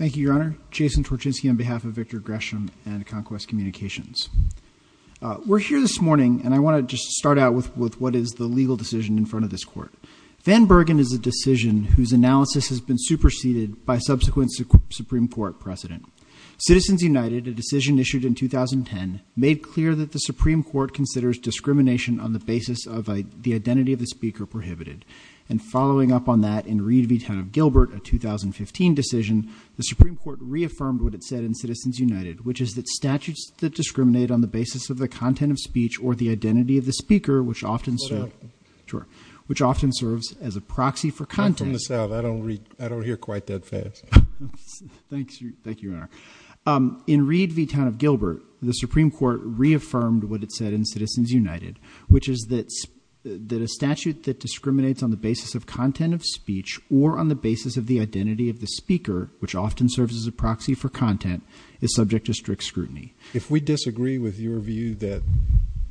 We're here this morning and I want to just start out with what is the legal decision in front of this court. Van Bergen is a decision whose analysis has been superseded by subsequent Supreme Court precedent. Citizens United, a decision issued in 2010, made clear that the Supreme Court considers discrimination on the basis of the identity of the speaker prohibited. And following up on that, in Reed v. Town of Gilbert, a 2015 decision, the Supreme Court reaffirmed what it said in Citizens United, which is that statutes that discriminate on the basis of the content of speech or the identity of the speaker, which often serves as a proxy for content. In Reed v. Town of Gilbert, the Supreme Court reaffirmed what it said in Citizens United, which is that a statute that discriminates on the basis of content of speech or on the basis of the identity of the speaker, which often serves as a proxy for content, is subject to strict scrutiny. If we disagree with your view that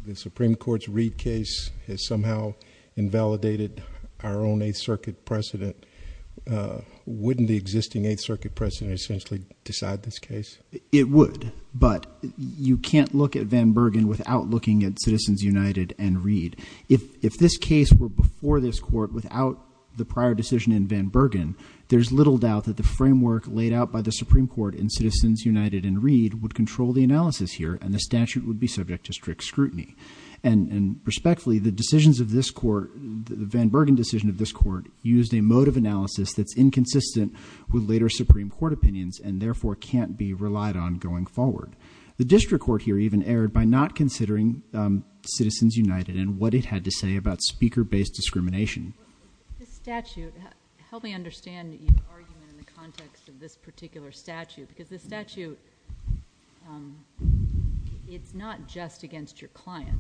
the Supreme Court's Reed case has somehow invalidated our own Eighth Circuit precedent, wouldn't the existing Eighth Circuit precedent essentially decide this case? It would, but you can't look at Van Bergen without looking at Citizens United and Reed. If this case were before this court without the prior decision in Van Bergen, there's little doubt that the framework laid out by the Supreme Court in Citizens United and Reed would control the analysis here, and the statute would be subject to strict scrutiny. And respectfully, the decisions of this court, the Van Bergen decision of this court, used a mode of analysis that's inconsistent with later Supreme Court opinions, and therefore can't be relied on going forward. The district court here even erred by not considering Citizens United and what it had to say about speaker-based discrimination. This statute, help me understand your argument in the context of this particular statute, because this statute, it's not just against your client.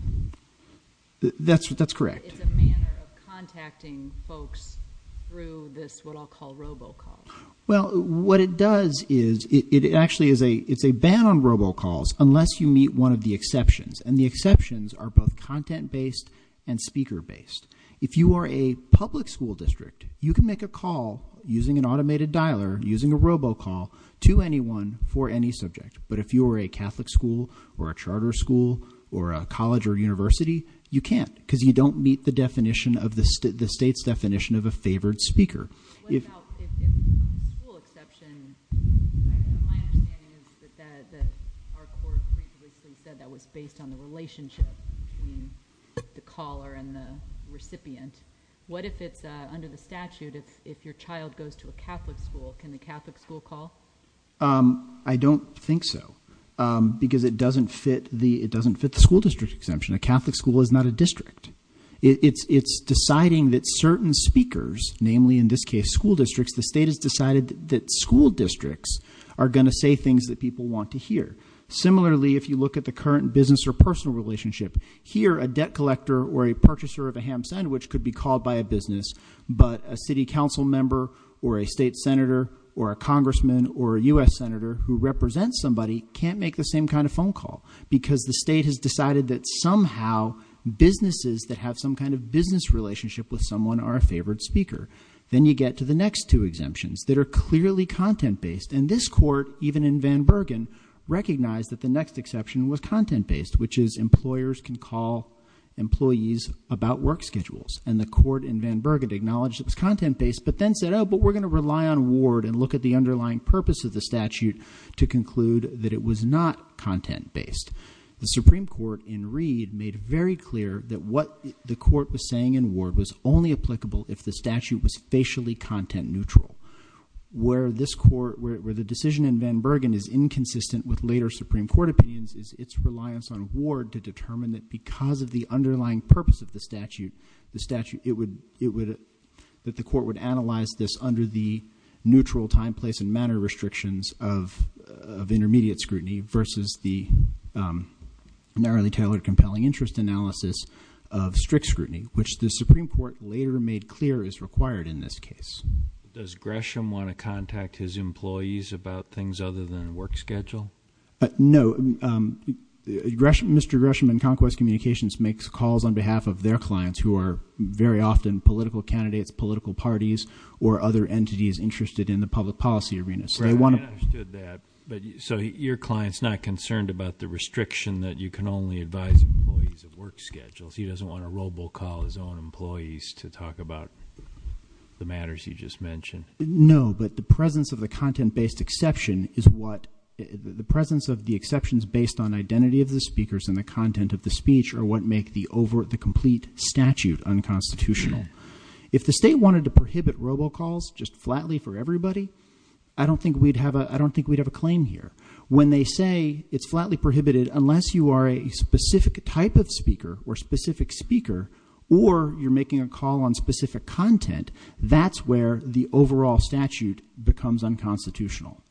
That's correct. It's a manner of contacting folks through this, what I'll call, robocall. Well, what it does is, it actually is a ban on robocalls unless you meet one of the exceptions, and the exceptions are both content-based and speaker-based. If you are a public school district, you can make a call using an automated dialer, using a robocall, to anyone for any subject. But if you're a Catholic school, or a charter school, or a college or university, you can't, because you don't meet the definition of the state's definition of a favored speaker. What about if the school exception, my understanding is that our court previously said that was based on the relationship between the caller and the recipient. What if it's under the statute, if your child goes to a Catholic school, can the Catholic school call? I don't think so, because it doesn't fit the school district exemption. A Catholic school is not a district. It's deciding that certain speakers, namely in this case school districts, the state has decided that school districts are going to say things that people want to hear. Similarly, if you look at the current business or personal relationship, here a debt collector or a person called by a business, but a city council member or a state senator or a congressman or a US senator who represents somebody can't make the same kind of phone call. Because the state has decided that somehow businesses that have some kind of business relationship with someone are a favored speaker. Then you get to the next two exemptions that are clearly content based. And this court, even in Van Bergen, recognized that the next exception was content based, which is employers can call employees about work schedules. And the court in Van Bergen acknowledged it was content based, but then said, but we're going to rely on Ward and look at the underlying purpose of the statute to conclude that it was not content based. The Supreme Court in Reed made very clear that what the court was saying in Ward was only applicable if the statute was facially content neutral. Where the decision in Van Bergen is inconsistent with later Supreme Court opinions is its reliance on the purpose of the statute, that the court would analyze this under the neutral time, place, and manner restrictions of intermediate scrutiny versus the narrowly tailored compelling interest analysis of strict scrutiny, which the Supreme Court later made clear is required in this case. Does Gresham want to contact his employees about things other than work schedule? No, Mr. Gresham in Conquest Communications makes calls on behalf of their clients who are very often political candidates, political parties, or other entities interested in the public policy arena. So they want to- I understood that, but so your client's not concerned about the restriction that you can only advise employees of work schedules. He doesn't want to robocall his own employees to talk about the matters you just mentioned. No, but the presence of the content-based exception is what, the presence of the exceptions based on identity of the speakers and the content of the speech are what make the complete statute unconstitutional. If the state wanted to prohibit robocalls just flatly for everybody, I don't think we'd have a claim here. When they say it's flatly prohibited unless you are a specific type of speaker or specific speaker or you're making a call on specific content, that's where the overall statute becomes unconstitutional.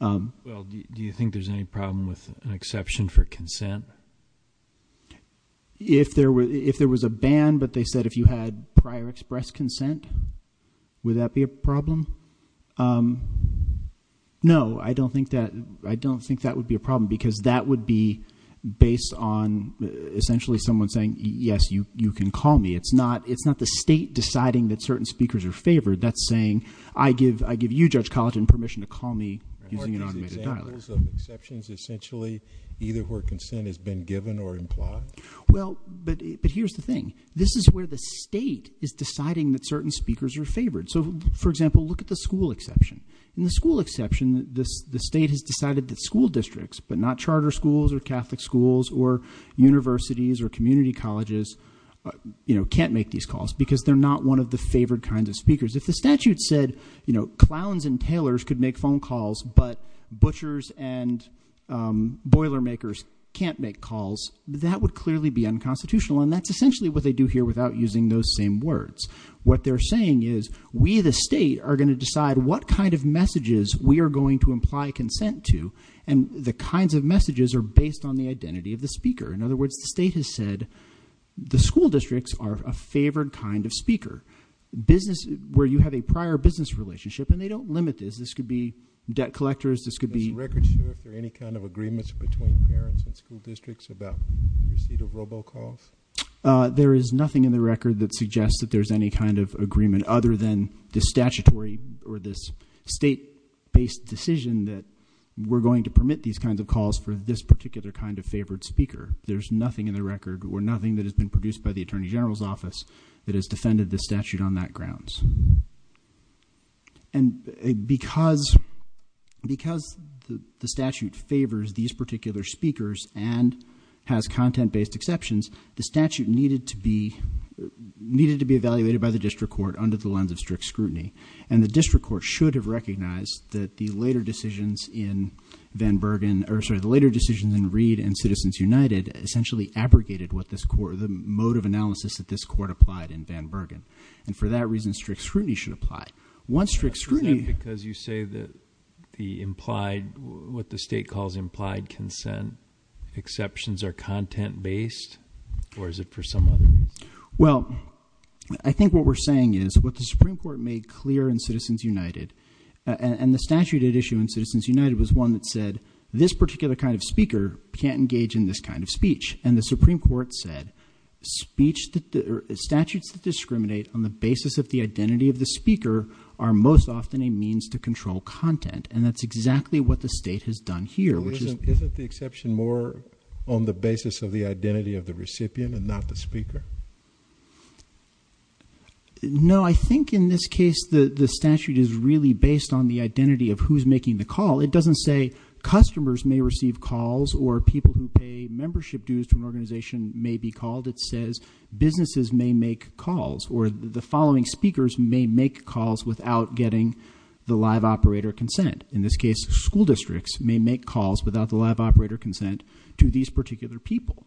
Well, do you think there's any problem with an exception for consent? If there was a ban, but they said if you had prior express consent, would that be a problem? No, I don't think that would be a problem, because that would be based on essentially someone saying, yes, you can call me. It's not the state deciding that certain speakers are favored. That's saying, I give you, Judge College, permission to call me using an automated dialer. And what are these examples of exceptions, essentially, either where consent has been given or implied? Well, but here's the thing. This is where the state is deciding that certain speakers are favored. So, for example, look at the school exception. In the school exception, the state has decided that school districts, but not charter schools or can't make these calls, because they're not one of the favored kinds of speakers. If the statute said, clowns and tailors could make phone calls, but butchers and boiler makers can't make calls, that would clearly be unconstitutional. And that's essentially what they do here without using those same words. What they're saying is, we, the state, are going to decide what kind of messages we are going to imply consent to. And the kinds of messages are based on the identity of the speaker. In other words, the state has said, the school districts are a favored kind of speaker. Business, where you have a prior business relationship, and they don't limit this. This could be debt collectors. This could be- Is the record sure if there are any kind of agreements between parents and school districts about receipt of robo calls? There is nothing in the record that suggests that there's any kind of agreement other than the statutory or this state based decision that we're going to permit these kinds of calls for this particular kind of favored speaker. There's nothing in the record or nothing that has been produced by the Attorney General's office that has defended the statute on that grounds. And because the statute favors these particular speakers and has content based exceptions, the statute needed to be evaluated by the district court under the lens of strict scrutiny. And the district court should have recognized that the later decisions in Van Bergen, or sorry, the later decisions in Reed and Citizens United essentially abrogated what this court, the mode of analysis that this court applied in Van Bergen. And for that reason, strict scrutiny should apply. Once strict scrutiny- Because you say that the implied, what the state calls implied consent, exceptions are content based, or is it for some other reason? Well, I think what we're saying is, what the Supreme Court made clear in Citizens United, and the statute it issued in Citizens United was one that said, this particular kind of speaker can't engage in this kind of speech. And the Supreme Court said, statutes that discriminate on the basis of the identity of the speaker are most often a means to control content, and that's exactly what the state has done here, which is- Question more on the basis of the identity of the recipient and not the speaker. No, I think in this case, the statute is really based on the identity of who's making the call. It doesn't say, customers may receive calls or people who pay membership dues to an organization may be called. It says, businesses may make calls, or the following speakers may make calls without getting the live operator consent. In this case, school districts may make calls without the live operator consent to these particular people.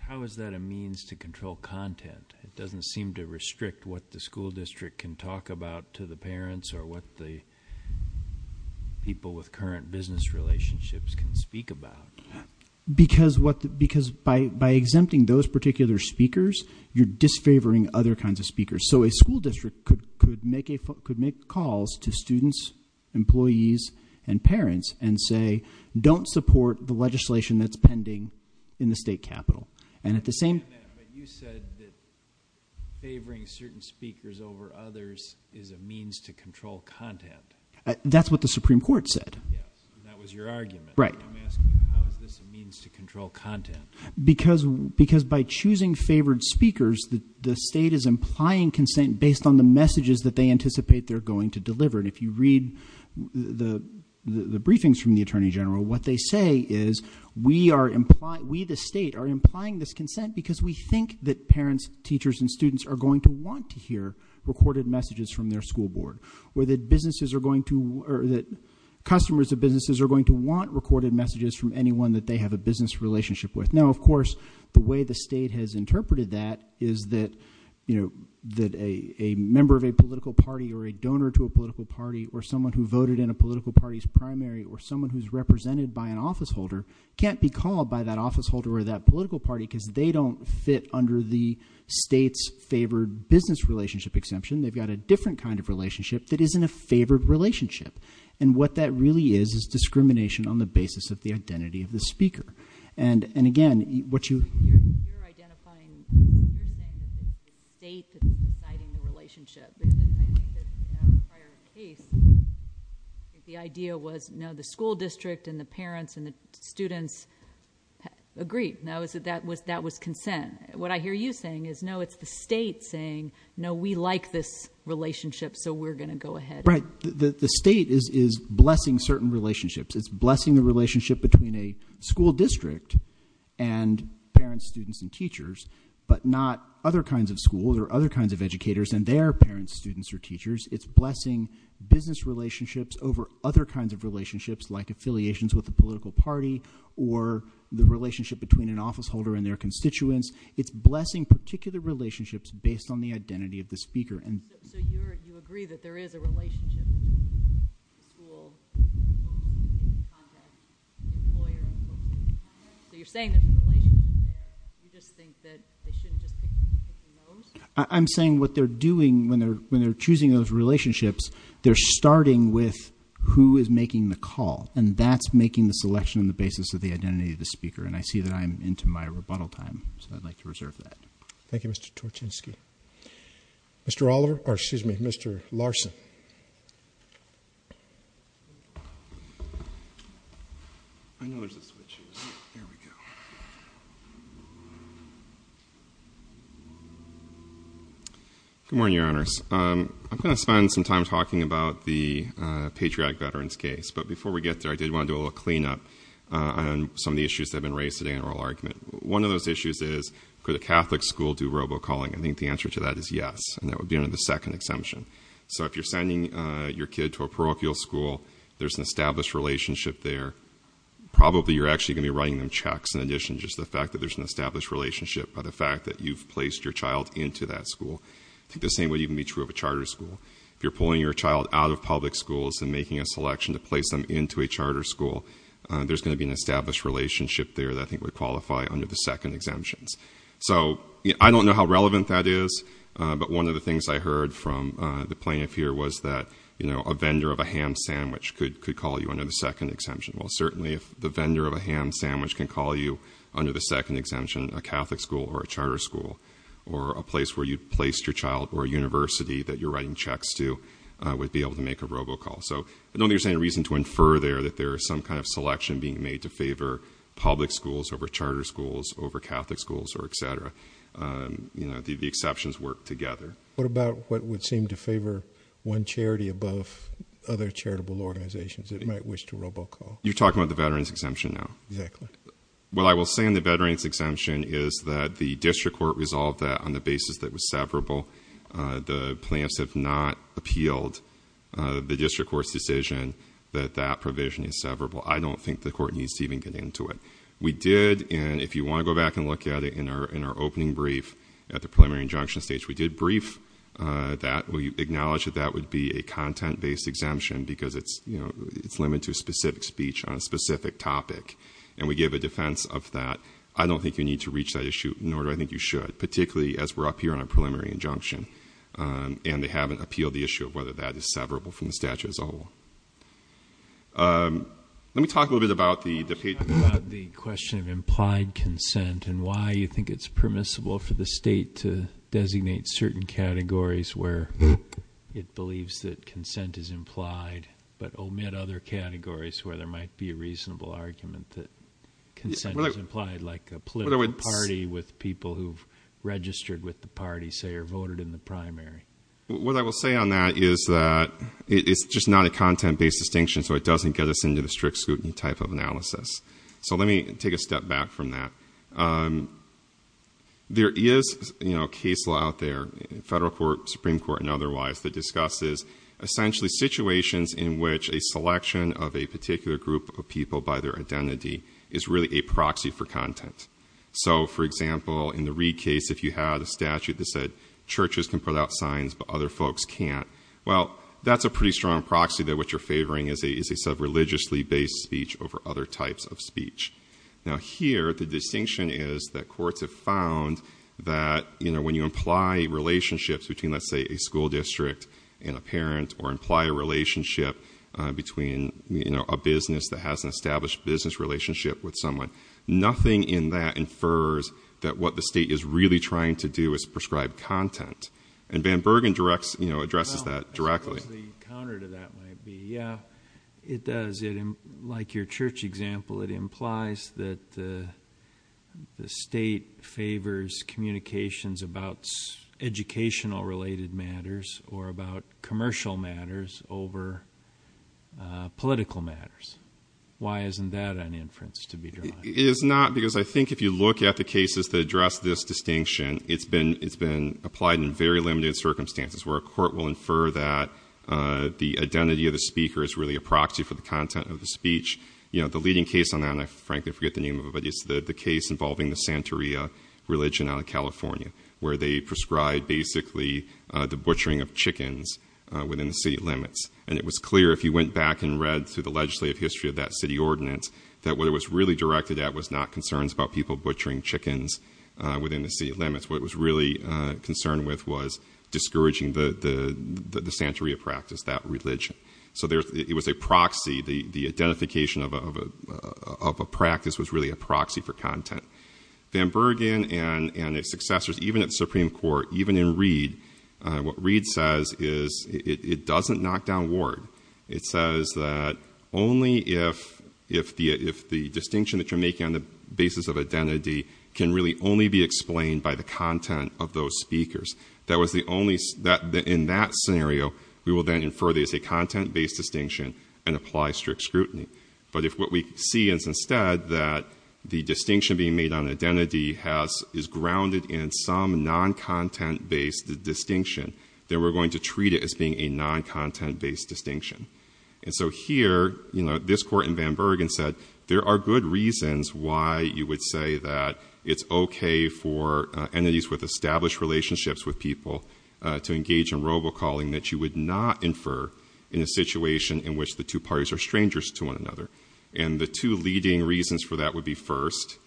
How is that a means to control content? It doesn't seem to restrict what the school district can talk about to the parents or what the people with current business relationships can speak about. Because by exempting those particular speakers, you're disfavoring other kinds of speakers. So a school district could make calls to students, employees, and parents, and say, don't support the legislation that's pending in the state capitol. And at the same- But you said that favoring certain speakers over others is a means to control content. That's what the Supreme Court said. Yes, and that was your argument. Right. I'm asking, how is this a means to control content? Because by choosing favored speakers, the state is implying consent based on the messages that they anticipate they're going to deliver. And if you read the briefings from the Attorney General, what they say is, we the state are implying this consent because we think that parents, teachers, and students are going to want to hear recorded messages from their school board. Or that customers of businesses are going to want recorded messages from anyone that they have a business relationship with. Now, of course, the way the state has interpreted that is that a member of a political party or a donor to a political party or someone who voted in a political party's primary or someone who's represented by an office holder can't be called by that office holder or that political party because they don't fit under the state's favored business relationship exemption. They've got a different kind of relationship that isn't a favored relationship. And what that really is is discrimination on the basis of the identity of the speaker. And again, what you- You're identifying, you're saying it's the state that's deciding the relationship. I think that prior to the case, the idea was the school district and the parents and the students agreed, that was consent. What I hear you saying is, no, it's the state saying, no, we like this relationship, so we're going to go ahead. Right, the state is blessing certain relationships. It's blessing the relationship between a school district and parents, students, and teachers. But not other kinds of schools or other kinds of educators and their parents, students, or teachers. It's blessing business relationships over other kinds of relationships like affiliations with the political party or the relationship between an office holder and their constituents. It's blessing particular relationships based on the identity of the speaker. So you agree that there is a relationship between school, contact, employer, and local. So you're saying that the relationship, you just think that they shouldn't just pick and choose who knows? I'm saying what they're doing when they're choosing those relationships, they're starting with who is making the call. And that's making the selection on the basis of the identity of the speaker. And I see that I'm into my rebuttal time, so I'd like to reserve that. Thank you, Mr. Torchinsky. Thank you. Mr. Oliver, or excuse me, Mr. Larson. I know there's a switch. There we go. Good morning, your honors. I'm going to spend some time talking about the patriotic veterans case. But before we get there, I did want to do a little clean up on some of the issues that have been raised today in oral argument. One of those issues is, could a Catholic school do robo-calling? I think the answer to that is yes, and that would be under the second exemption. So if you're sending your kid to a parochial school, there's an established relationship there. Probably you're actually going to be writing them checks in addition to just the fact that there's an established relationship by the fact that you've placed your child into that school. I think the same would even be true of a charter school. If you're pulling your child out of public schools and making a selection to place them into a charter school, there's going to be an established relationship there that I think would qualify under the second exemptions. So, I don't know how relevant that is, but one of the things I heard from the plaintiff here was that a vendor of a ham sandwich could call you under the second exemption. Well, certainly if the vendor of a ham sandwich can call you under the second exemption, a Catholic school or a charter school, or a place where you placed your child, or a university that you're writing checks to, would be able to make a robo-call. So I don't think there's any reason to infer there that there is some kind of selection being made to favor public schools over charter schools, over Catholic schools, or et cetera, you know, the exceptions work together. What about what would seem to favor one charity above other charitable organizations that might wish to robo-call? You're talking about the veteran's exemption now. Exactly. What I will say on the veteran's exemption is that the district court resolved that on the basis that it was severable. The plaintiffs have not appealed the district court's decision that that provision is severable. I don't think the court needs to even get into it. We did, and if you want to go back and look at it in our opening brief at the preliminary injunction stage, we did brief that, we acknowledged that that would be a content-based exemption, because it's limited to a specific speech on a specific topic. And we gave a defense of that. I don't think you need to reach that issue, nor do I think you should, particularly as we're up here on a preliminary injunction. And they haven't appealed the issue of whether that is severable from the statute as a whole. Let me talk a little bit about the- About the question of implied consent and why you think it's permissible for the state to designate certain categories where it believes that consent is implied. But omit other categories where there might be a reasonable argument that consent is implied, like a political party with people who've registered with the party, say, or voted in the primary. What I will say on that is that it's just not a content-based distinction, so it doesn't get us into the strict scrutiny type of analysis. So let me take a step back from that. There is a case law out there, federal court, supreme court, and otherwise, that discusses essentially situations in which a selection of a particular group of people by their identity is really a proxy for content. So for example, in the Reed case, if you had a statute that said churches can put out signs, but other folks can't. Well, that's a pretty strong proxy that what you're favoring is a sub-religiously based speech over other types of speech. Now here, the distinction is that courts have found that when you imply relationships between, let's say, a school district and a parent, or imply a relationship between a business that has an established business relationship with someone. Nothing in that infers that what the state is really trying to do is prescribe content. And Van Bergen addresses that directly. I suppose the counter to that might be, yeah, it does. Like your church example, it implies that the state favors communications about educational related matters or about commercial matters over political matters. Why isn't that an inference to be drawn? It is not, because I think if you look at the cases that address this distinction, it's been applied in very limited circumstances, where a court will infer that the identity of the speaker is really a proxy for the content of the speech. The leading case on that, and I frankly forget the name of it, but it's the case involving the Santeria religion out of California, where they prescribe basically the butchering of chickens within the city limits. And it was clear, if you went back and read through the legislative history of that city ordinance, that what it was really directed at was not concerns about people butchering chickens within the city limits. What it was really concerned with was discouraging the Santeria practice, that religion. So it was a proxy, the identification of a practice was really a proxy for content. Van Bergen and his successors, even at the Supreme Court, even in Reed, what Reed says is it doesn't knock down Ward. It says that only if the distinction that you're making on the basis of identity can really only be explained by the content of those speakers. That was the only, in that scenario, we will then infer there's a content-based distinction and apply strict scrutiny. But if what we see is instead that the distinction being made on identity is grounded in some non-content-based distinction, then we're going to treat it as being a non-content-based distinction. And so here, this court in Van Bergen said, there are good reasons why you would say that it's okay for entities with established relationships with people to engage in robocalling that you would not infer in a situation in which the two parties are strangers to one another. And the two leading reasons for that would be first,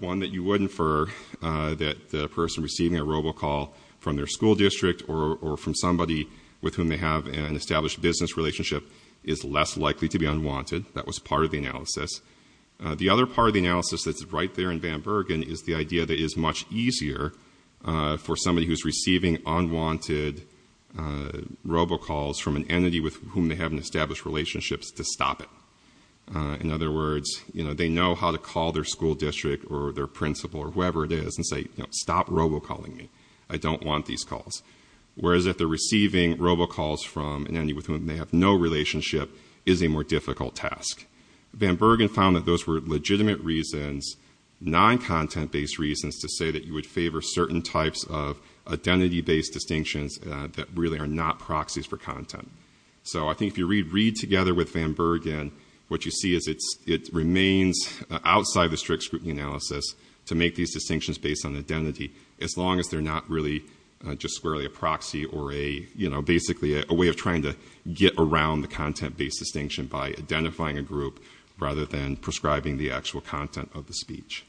one that you would infer that a person receiving a robocall from their school district or from somebody with whom they have an established business relationship is less likely to be unwanted. That was part of the analysis. The other part of the analysis that's right there in Van Bergen is the idea that it's much easier for somebody who's receiving unwanted robocalls from an entity with whom they have an established relationship to stop it. In other words, they know how to call their school district or their principal or whoever it is and say, stop robocalling me. I don't want these calls. Whereas if they're receiving robocalls from an entity with whom they have no relationship, it is a more difficult task. Van Bergen found that those were legitimate reasons, non-content-based reasons to say that you would favor certain types of identity-based distinctions that really are not proxies for content. So I think if you read together with Van Bergen, what you see is it remains outside the strict scrutiny analysis to make these distinctions based on identity, as long as they're not really just squarely a proxy or a, you know, basically a way of trying to get around the content-based distinction by identifying a group rather than prescribing the actual content of the speech.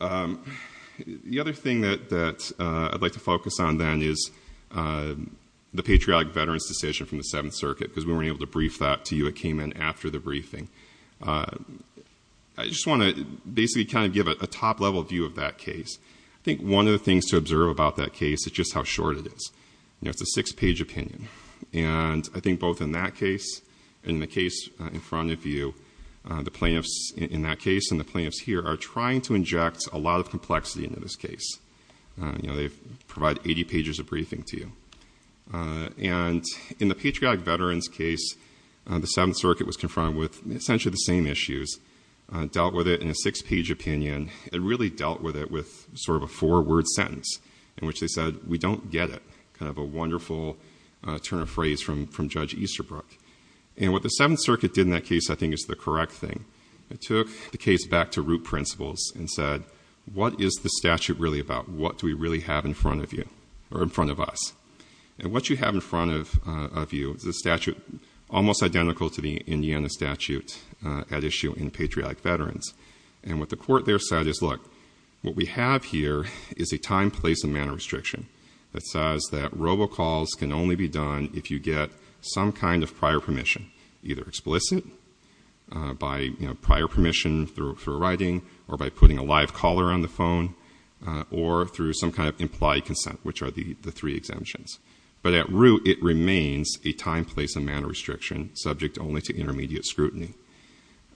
The other thing that I'd like to focus on then is the patriotic veterans decision from the Seventh Circuit, because we weren't able to brief that to you. It came in after the briefing. I just want to basically kind of give a top-level view of that case. I think one of the things to observe about that case is just how short it is. You know, it's a six-page opinion. And I think both in that case and the case in front of you, the plaintiffs in that case and the plaintiffs here are trying to inject a lot of complexity into this case. You know, they provide 80 pages of briefing to you. And in the patriotic veterans case, the Seventh Circuit was confronted with essentially the same issues, dealt with it in a six-page opinion, and really dealt with it with sort of a four-word sentence, in which they said, we don't get it, kind of a wonderful turn of phrase from Judge Easterbrook. And what the Seventh Circuit did in that case, I think, is the correct thing. It took the case back to root principles and said, what is the statute really about? What do we really have in front of you, or in front of us? And what you have in front of you is a statute almost identical to the Indiana statute at issue in patriotic veterans. And what the court there said is, look, what we have here is a time, place, and manner restriction that says that robocalls can only be done if you get some kind of prior permission, either explicit, by prior permission through writing, or by putting a live caller on the phone, or through some kind of implied consent, which are the three exemptions. But at root, it remains a time, place, and manner restriction subject only to intermediate scrutiny.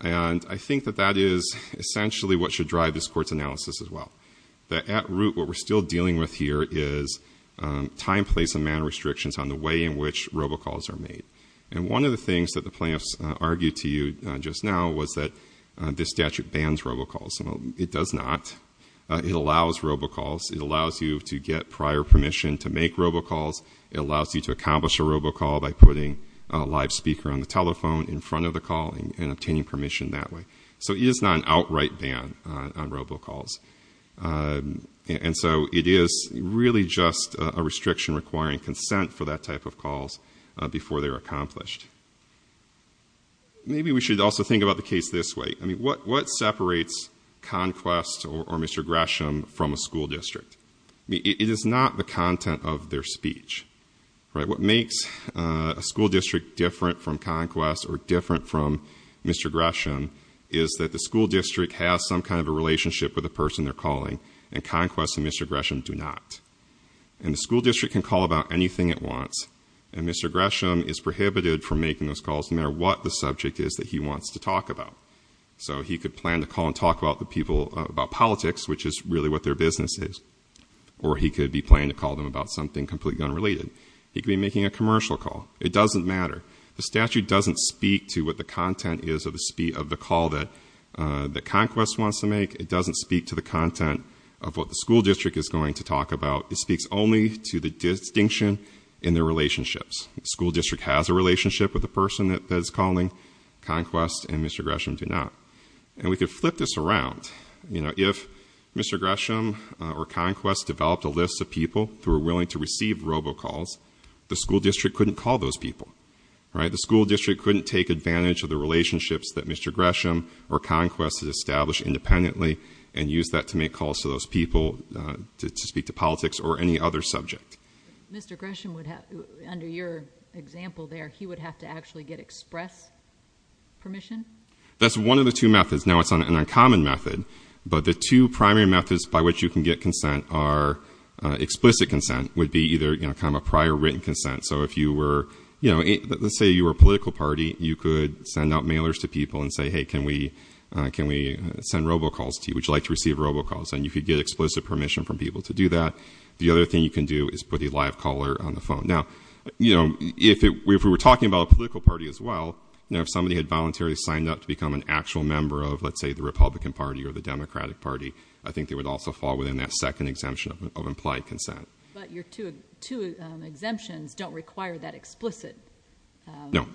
And I think that that is essentially what should drive this court's analysis as well. That at root, what we're still dealing with here is time, place, and manner restrictions on the way in which robocalls are made. And one of the things that the plaintiffs argued to you just now was that this statute bans robocalls. It does not. It allows robocalls. It allows you to get prior permission to make robocalls. It allows you to accomplish a robocall by putting a live speaker on the telephone in front of the calling and obtaining permission that way. So it is not an outright ban on robocalls. And so it is really just a restriction requiring consent for that type of calls before they're accomplished. Maybe we should also think about the case this way. I mean, what separates Conquest or Mr. Gresham from a school district? It is not the content of their speech, right? What makes a school district different from Conquest or different from Mr. Gresham is that the school district has some kind of a relationship with the person they're calling. And Conquest and Mr. Gresham do not. And the school district can call about anything it wants. And Mr. Gresham is prohibited from making those calls no matter what the subject is that he wants to talk about. So he could plan to call and talk about the people, about politics, which is really what their business is. Or he could be planning to call them about something completely unrelated. He could be making a commercial call. It doesn't matter. The statute doesn't speak to what the content is of the call that Conquest wants to make. It doesn't speak to the content of what the school district is going to talk about. It speaks only to the distinction in their relationships. School district has a relationship with the person that it's calling. Conquest and Mr. Gresham do not. And we could flip this around. If Mr. Gresham or Conquest developed a list of people who were willing to receive robocalls, the school district couldn't call those people, right? The school district couldn't take advantage of the relationships that Mr. Gresham or Conquest has established independently and use that to make calls to those people to speak to politics or any other subject. Mr. Gresham would have, under your example there, he would have to actually get express permission? That's one of the two methods. Now it's an uncommon method, but the two primary methods by which you can get consent are explicit consent, would be either kind of a prior written consent, so if you were, let's say you were a political party, you could send out mailers to people and say, hey, can we send robocalls to you? Would you like to receive robocalls? And you could get explicit permission from people to do that. The other thing you can do is put a live caller on the phone. Now, if we were talking about a political party as well, if somebody had voluntarily signed up to become an actual member of, let's say, the Republican Party or the Democratic Party, I think they would also fall within that second exemption of implied consent. But your two exemptions don't require that explicit- No,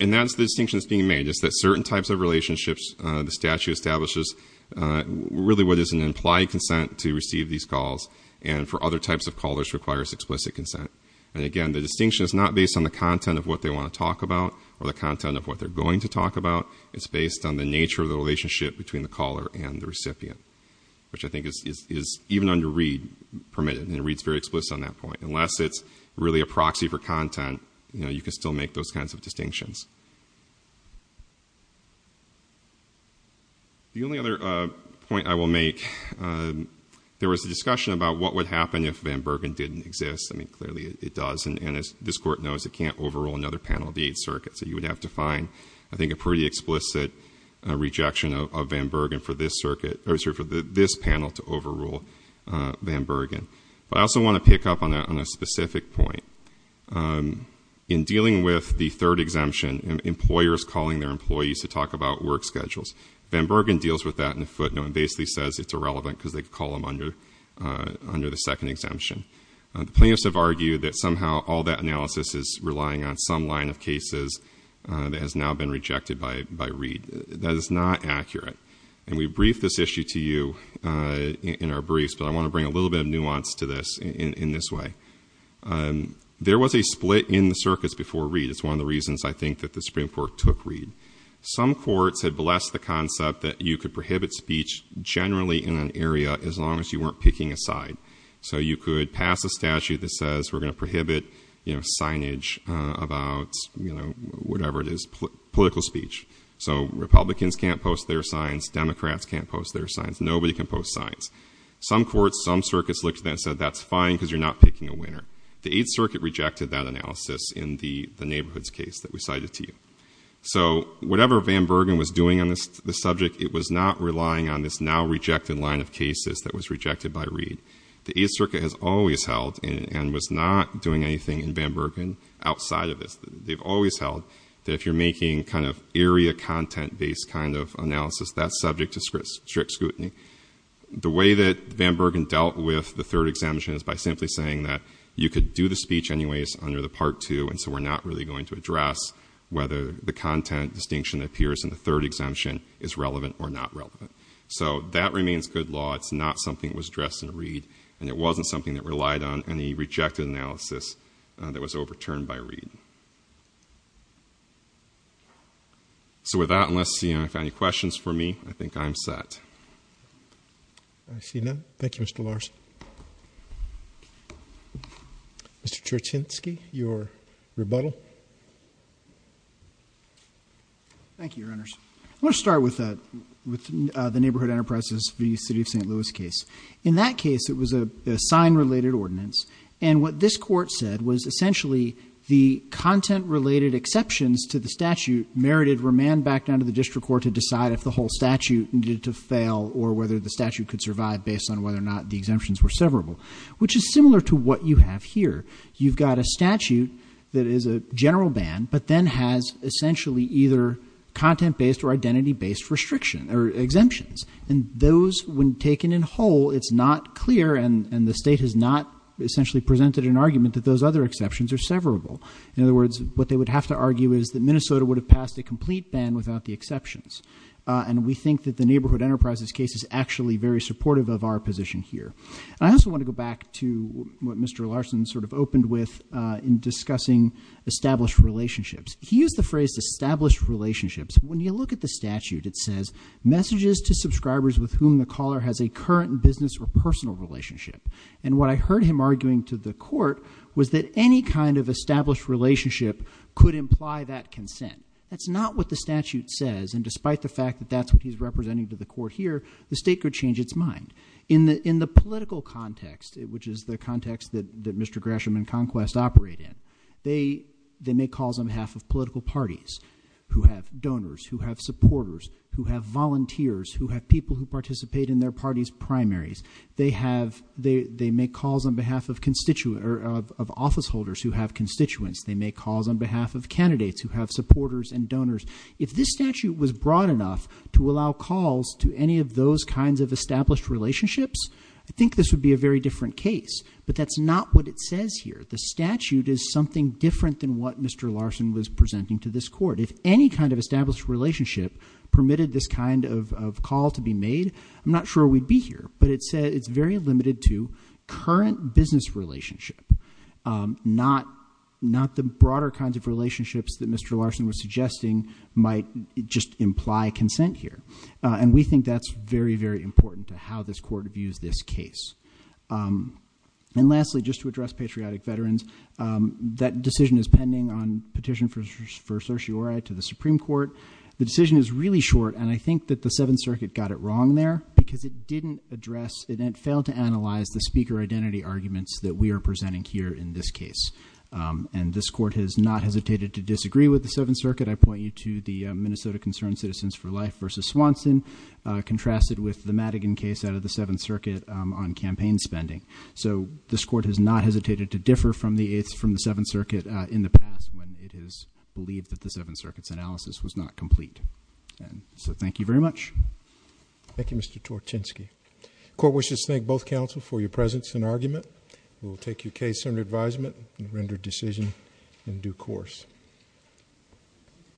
and that's the distinction that's being made, is that certain types of relationships, the statute establishes really what is an implied consent to receive these calls, and for other types of callers requires explicit consent. And again, the distinction is not based on the content of what they want to talk about, or the content of what they're going to talk about. It's based on the nature of the relationship between the caller and the recipient. Which I think is, even under Reed, permitted, and Reed's very explicit on that point. Unless it's really a proxy for content, you can still make those kinds of distinctions. The only other point I will make, there was a discussion about what would happen if Van Bergen didn't exist. I mean, clearly it does, and as this court knows, it can't overrule another panel of the Eighth Circuit. So you would have to find, I think, a pretty explicit rejection of Van Bergen for this circuit, or sorry, for this panel to overrule Van Bergen. But I also want to pick up on a specific point. In dealing with the third exemption, employers calling their employees to talk about work schedules. Van Bergen deals with that in a footnote, and basically says it's irrelevant because they call them under the second exemption. The plaintiffs have argued that somehow all that analysis is relying on some line of cases that has now been rejected by Reed. That is not accurate. And we briefed this issue to you in our briefs, but I want to bring a little bit of nuance to this in this way. There was a split in the circuits before Reed. It's one of the reasons, I think, that the Supreme Court took Reed. Some courts had blessed the concept that you could prohibit speech generally in an area as long as you weren't picking a side. So you could pass a statute that says we're going to prohibit signage about whatever it is, political speech. So Republicans can't post their signs, Democrats can't post their signs, nobody can post signs. Some courts, some circuits looked at that and said that's fine because you're not picking a winner. The Eighth Circuit rejected that analysis in the neighborhoods case that we cited to you. So whatever Van Bergen was doing on this subject, it was not relying on this now rejected line of cases that was rejected by Reed. The Eighth Circuit has always held and was not doing anything in Van Bergen outside of this. They've always held that if you're making kind of area content based kind of analysis, that's subject to strict scrutiny. The way that Van Bergen dealt with the third exemption is by simply saying that you could do the speech anyways under the part two and so we're not really going to address whether the content distinction that appears in the third exemption is relevant or not relevant. So that remains good law. It's not something that was addressed in Reed, and it wasn't something that relied on any rejected analysis that was overturned by Reed. So with that, unless you have any questions for me, I think I'm set. I see none, thank you Mr. Larson. Mr. Cherchinsky, your rebuttal. Thank you, Your Honors. I want to start with the Neighborhood Enterprises v. City of St. Louis case. In that case, it was a sign-related ordinance. And what this court said was essentially the content-related exceptions to the statute merited remand back down to the district court to decide if the whole statute needed to fail or whether the statute could survive based on whether or not the exemptions were severable, which is similar to what you have here. You've got a statute that is a general ban, but then has essentially either content-based or identity-based exemptions. And those, when taken in whole, it's not clear and the state has not essentially presented an argument that those other exceptions are severable. In other words, what they would have to argue is that Minnesota would have passed a complete ban without the exceptions. And we think that the Neighborhood Enterprises case is actually very supportive of our position here. I also want to go back to what Mr. Larson sort of opened with in discussing established relationships. He used the phrase established relationships. When you look at the statute, it says, messages to subscribers with whom the caller has a current business or personal relationship. And what I heard him arguing to the court was that any kind of established relationship could imply that consent. That's not what the statute says, and despite the fact that that's what he's representing to the court here, the state could change its mind. In the political context, which is the context that Mr. Grasham and Conquest operate in, they make calls on behalf of political parties who have donors, who have supporters, who have volunteers, who have people who participate in their party's primaries. They make calls on behalf of office holders who have constituents. They make calls on behalf of candidates who have supporters and donors. If this statute was broad enough to allow calls to any of those kinds of established relationships, I think this would be a very different case. But that's not what it says here. The statute is something different than what Mr. Larson was presenting to this court. If any kind of established relationship permitted this kind of call to be made, I'm not sure we'd be here. But it's very limited to current business relationship. Not the broader kinds of relationships that Mr. Larson was suggesting might just imply consent here. And we think that's very, very important to how this court views this case. And lastly, just to address patriotic veterans, that decision is pending on petition for certiorari to the Supreme Court. The decision is really short, and I think that the Seventh Circuit got it wrong there because it didn't address, it failed to analyze the speaker identity arguments that we are presenting here in this case. And this court has not hesitated to disagree with the Seventh Circuit. I point you to the Minnesota Concerned Citizens for Life versus Swanson, contrasted with the Madigan case out of the Seventh Circuit on campaign spending. So this court has not hesitated to differ from the Seventh Circuit in the past, when it is believed that the Seventh Circuit's analysis was not complete. And so thank you very much. Thank you, Mr. Torchinsky. Court wishes to thank both counsel for your presence and argument. We'll take your case under advisement and render decision in due course.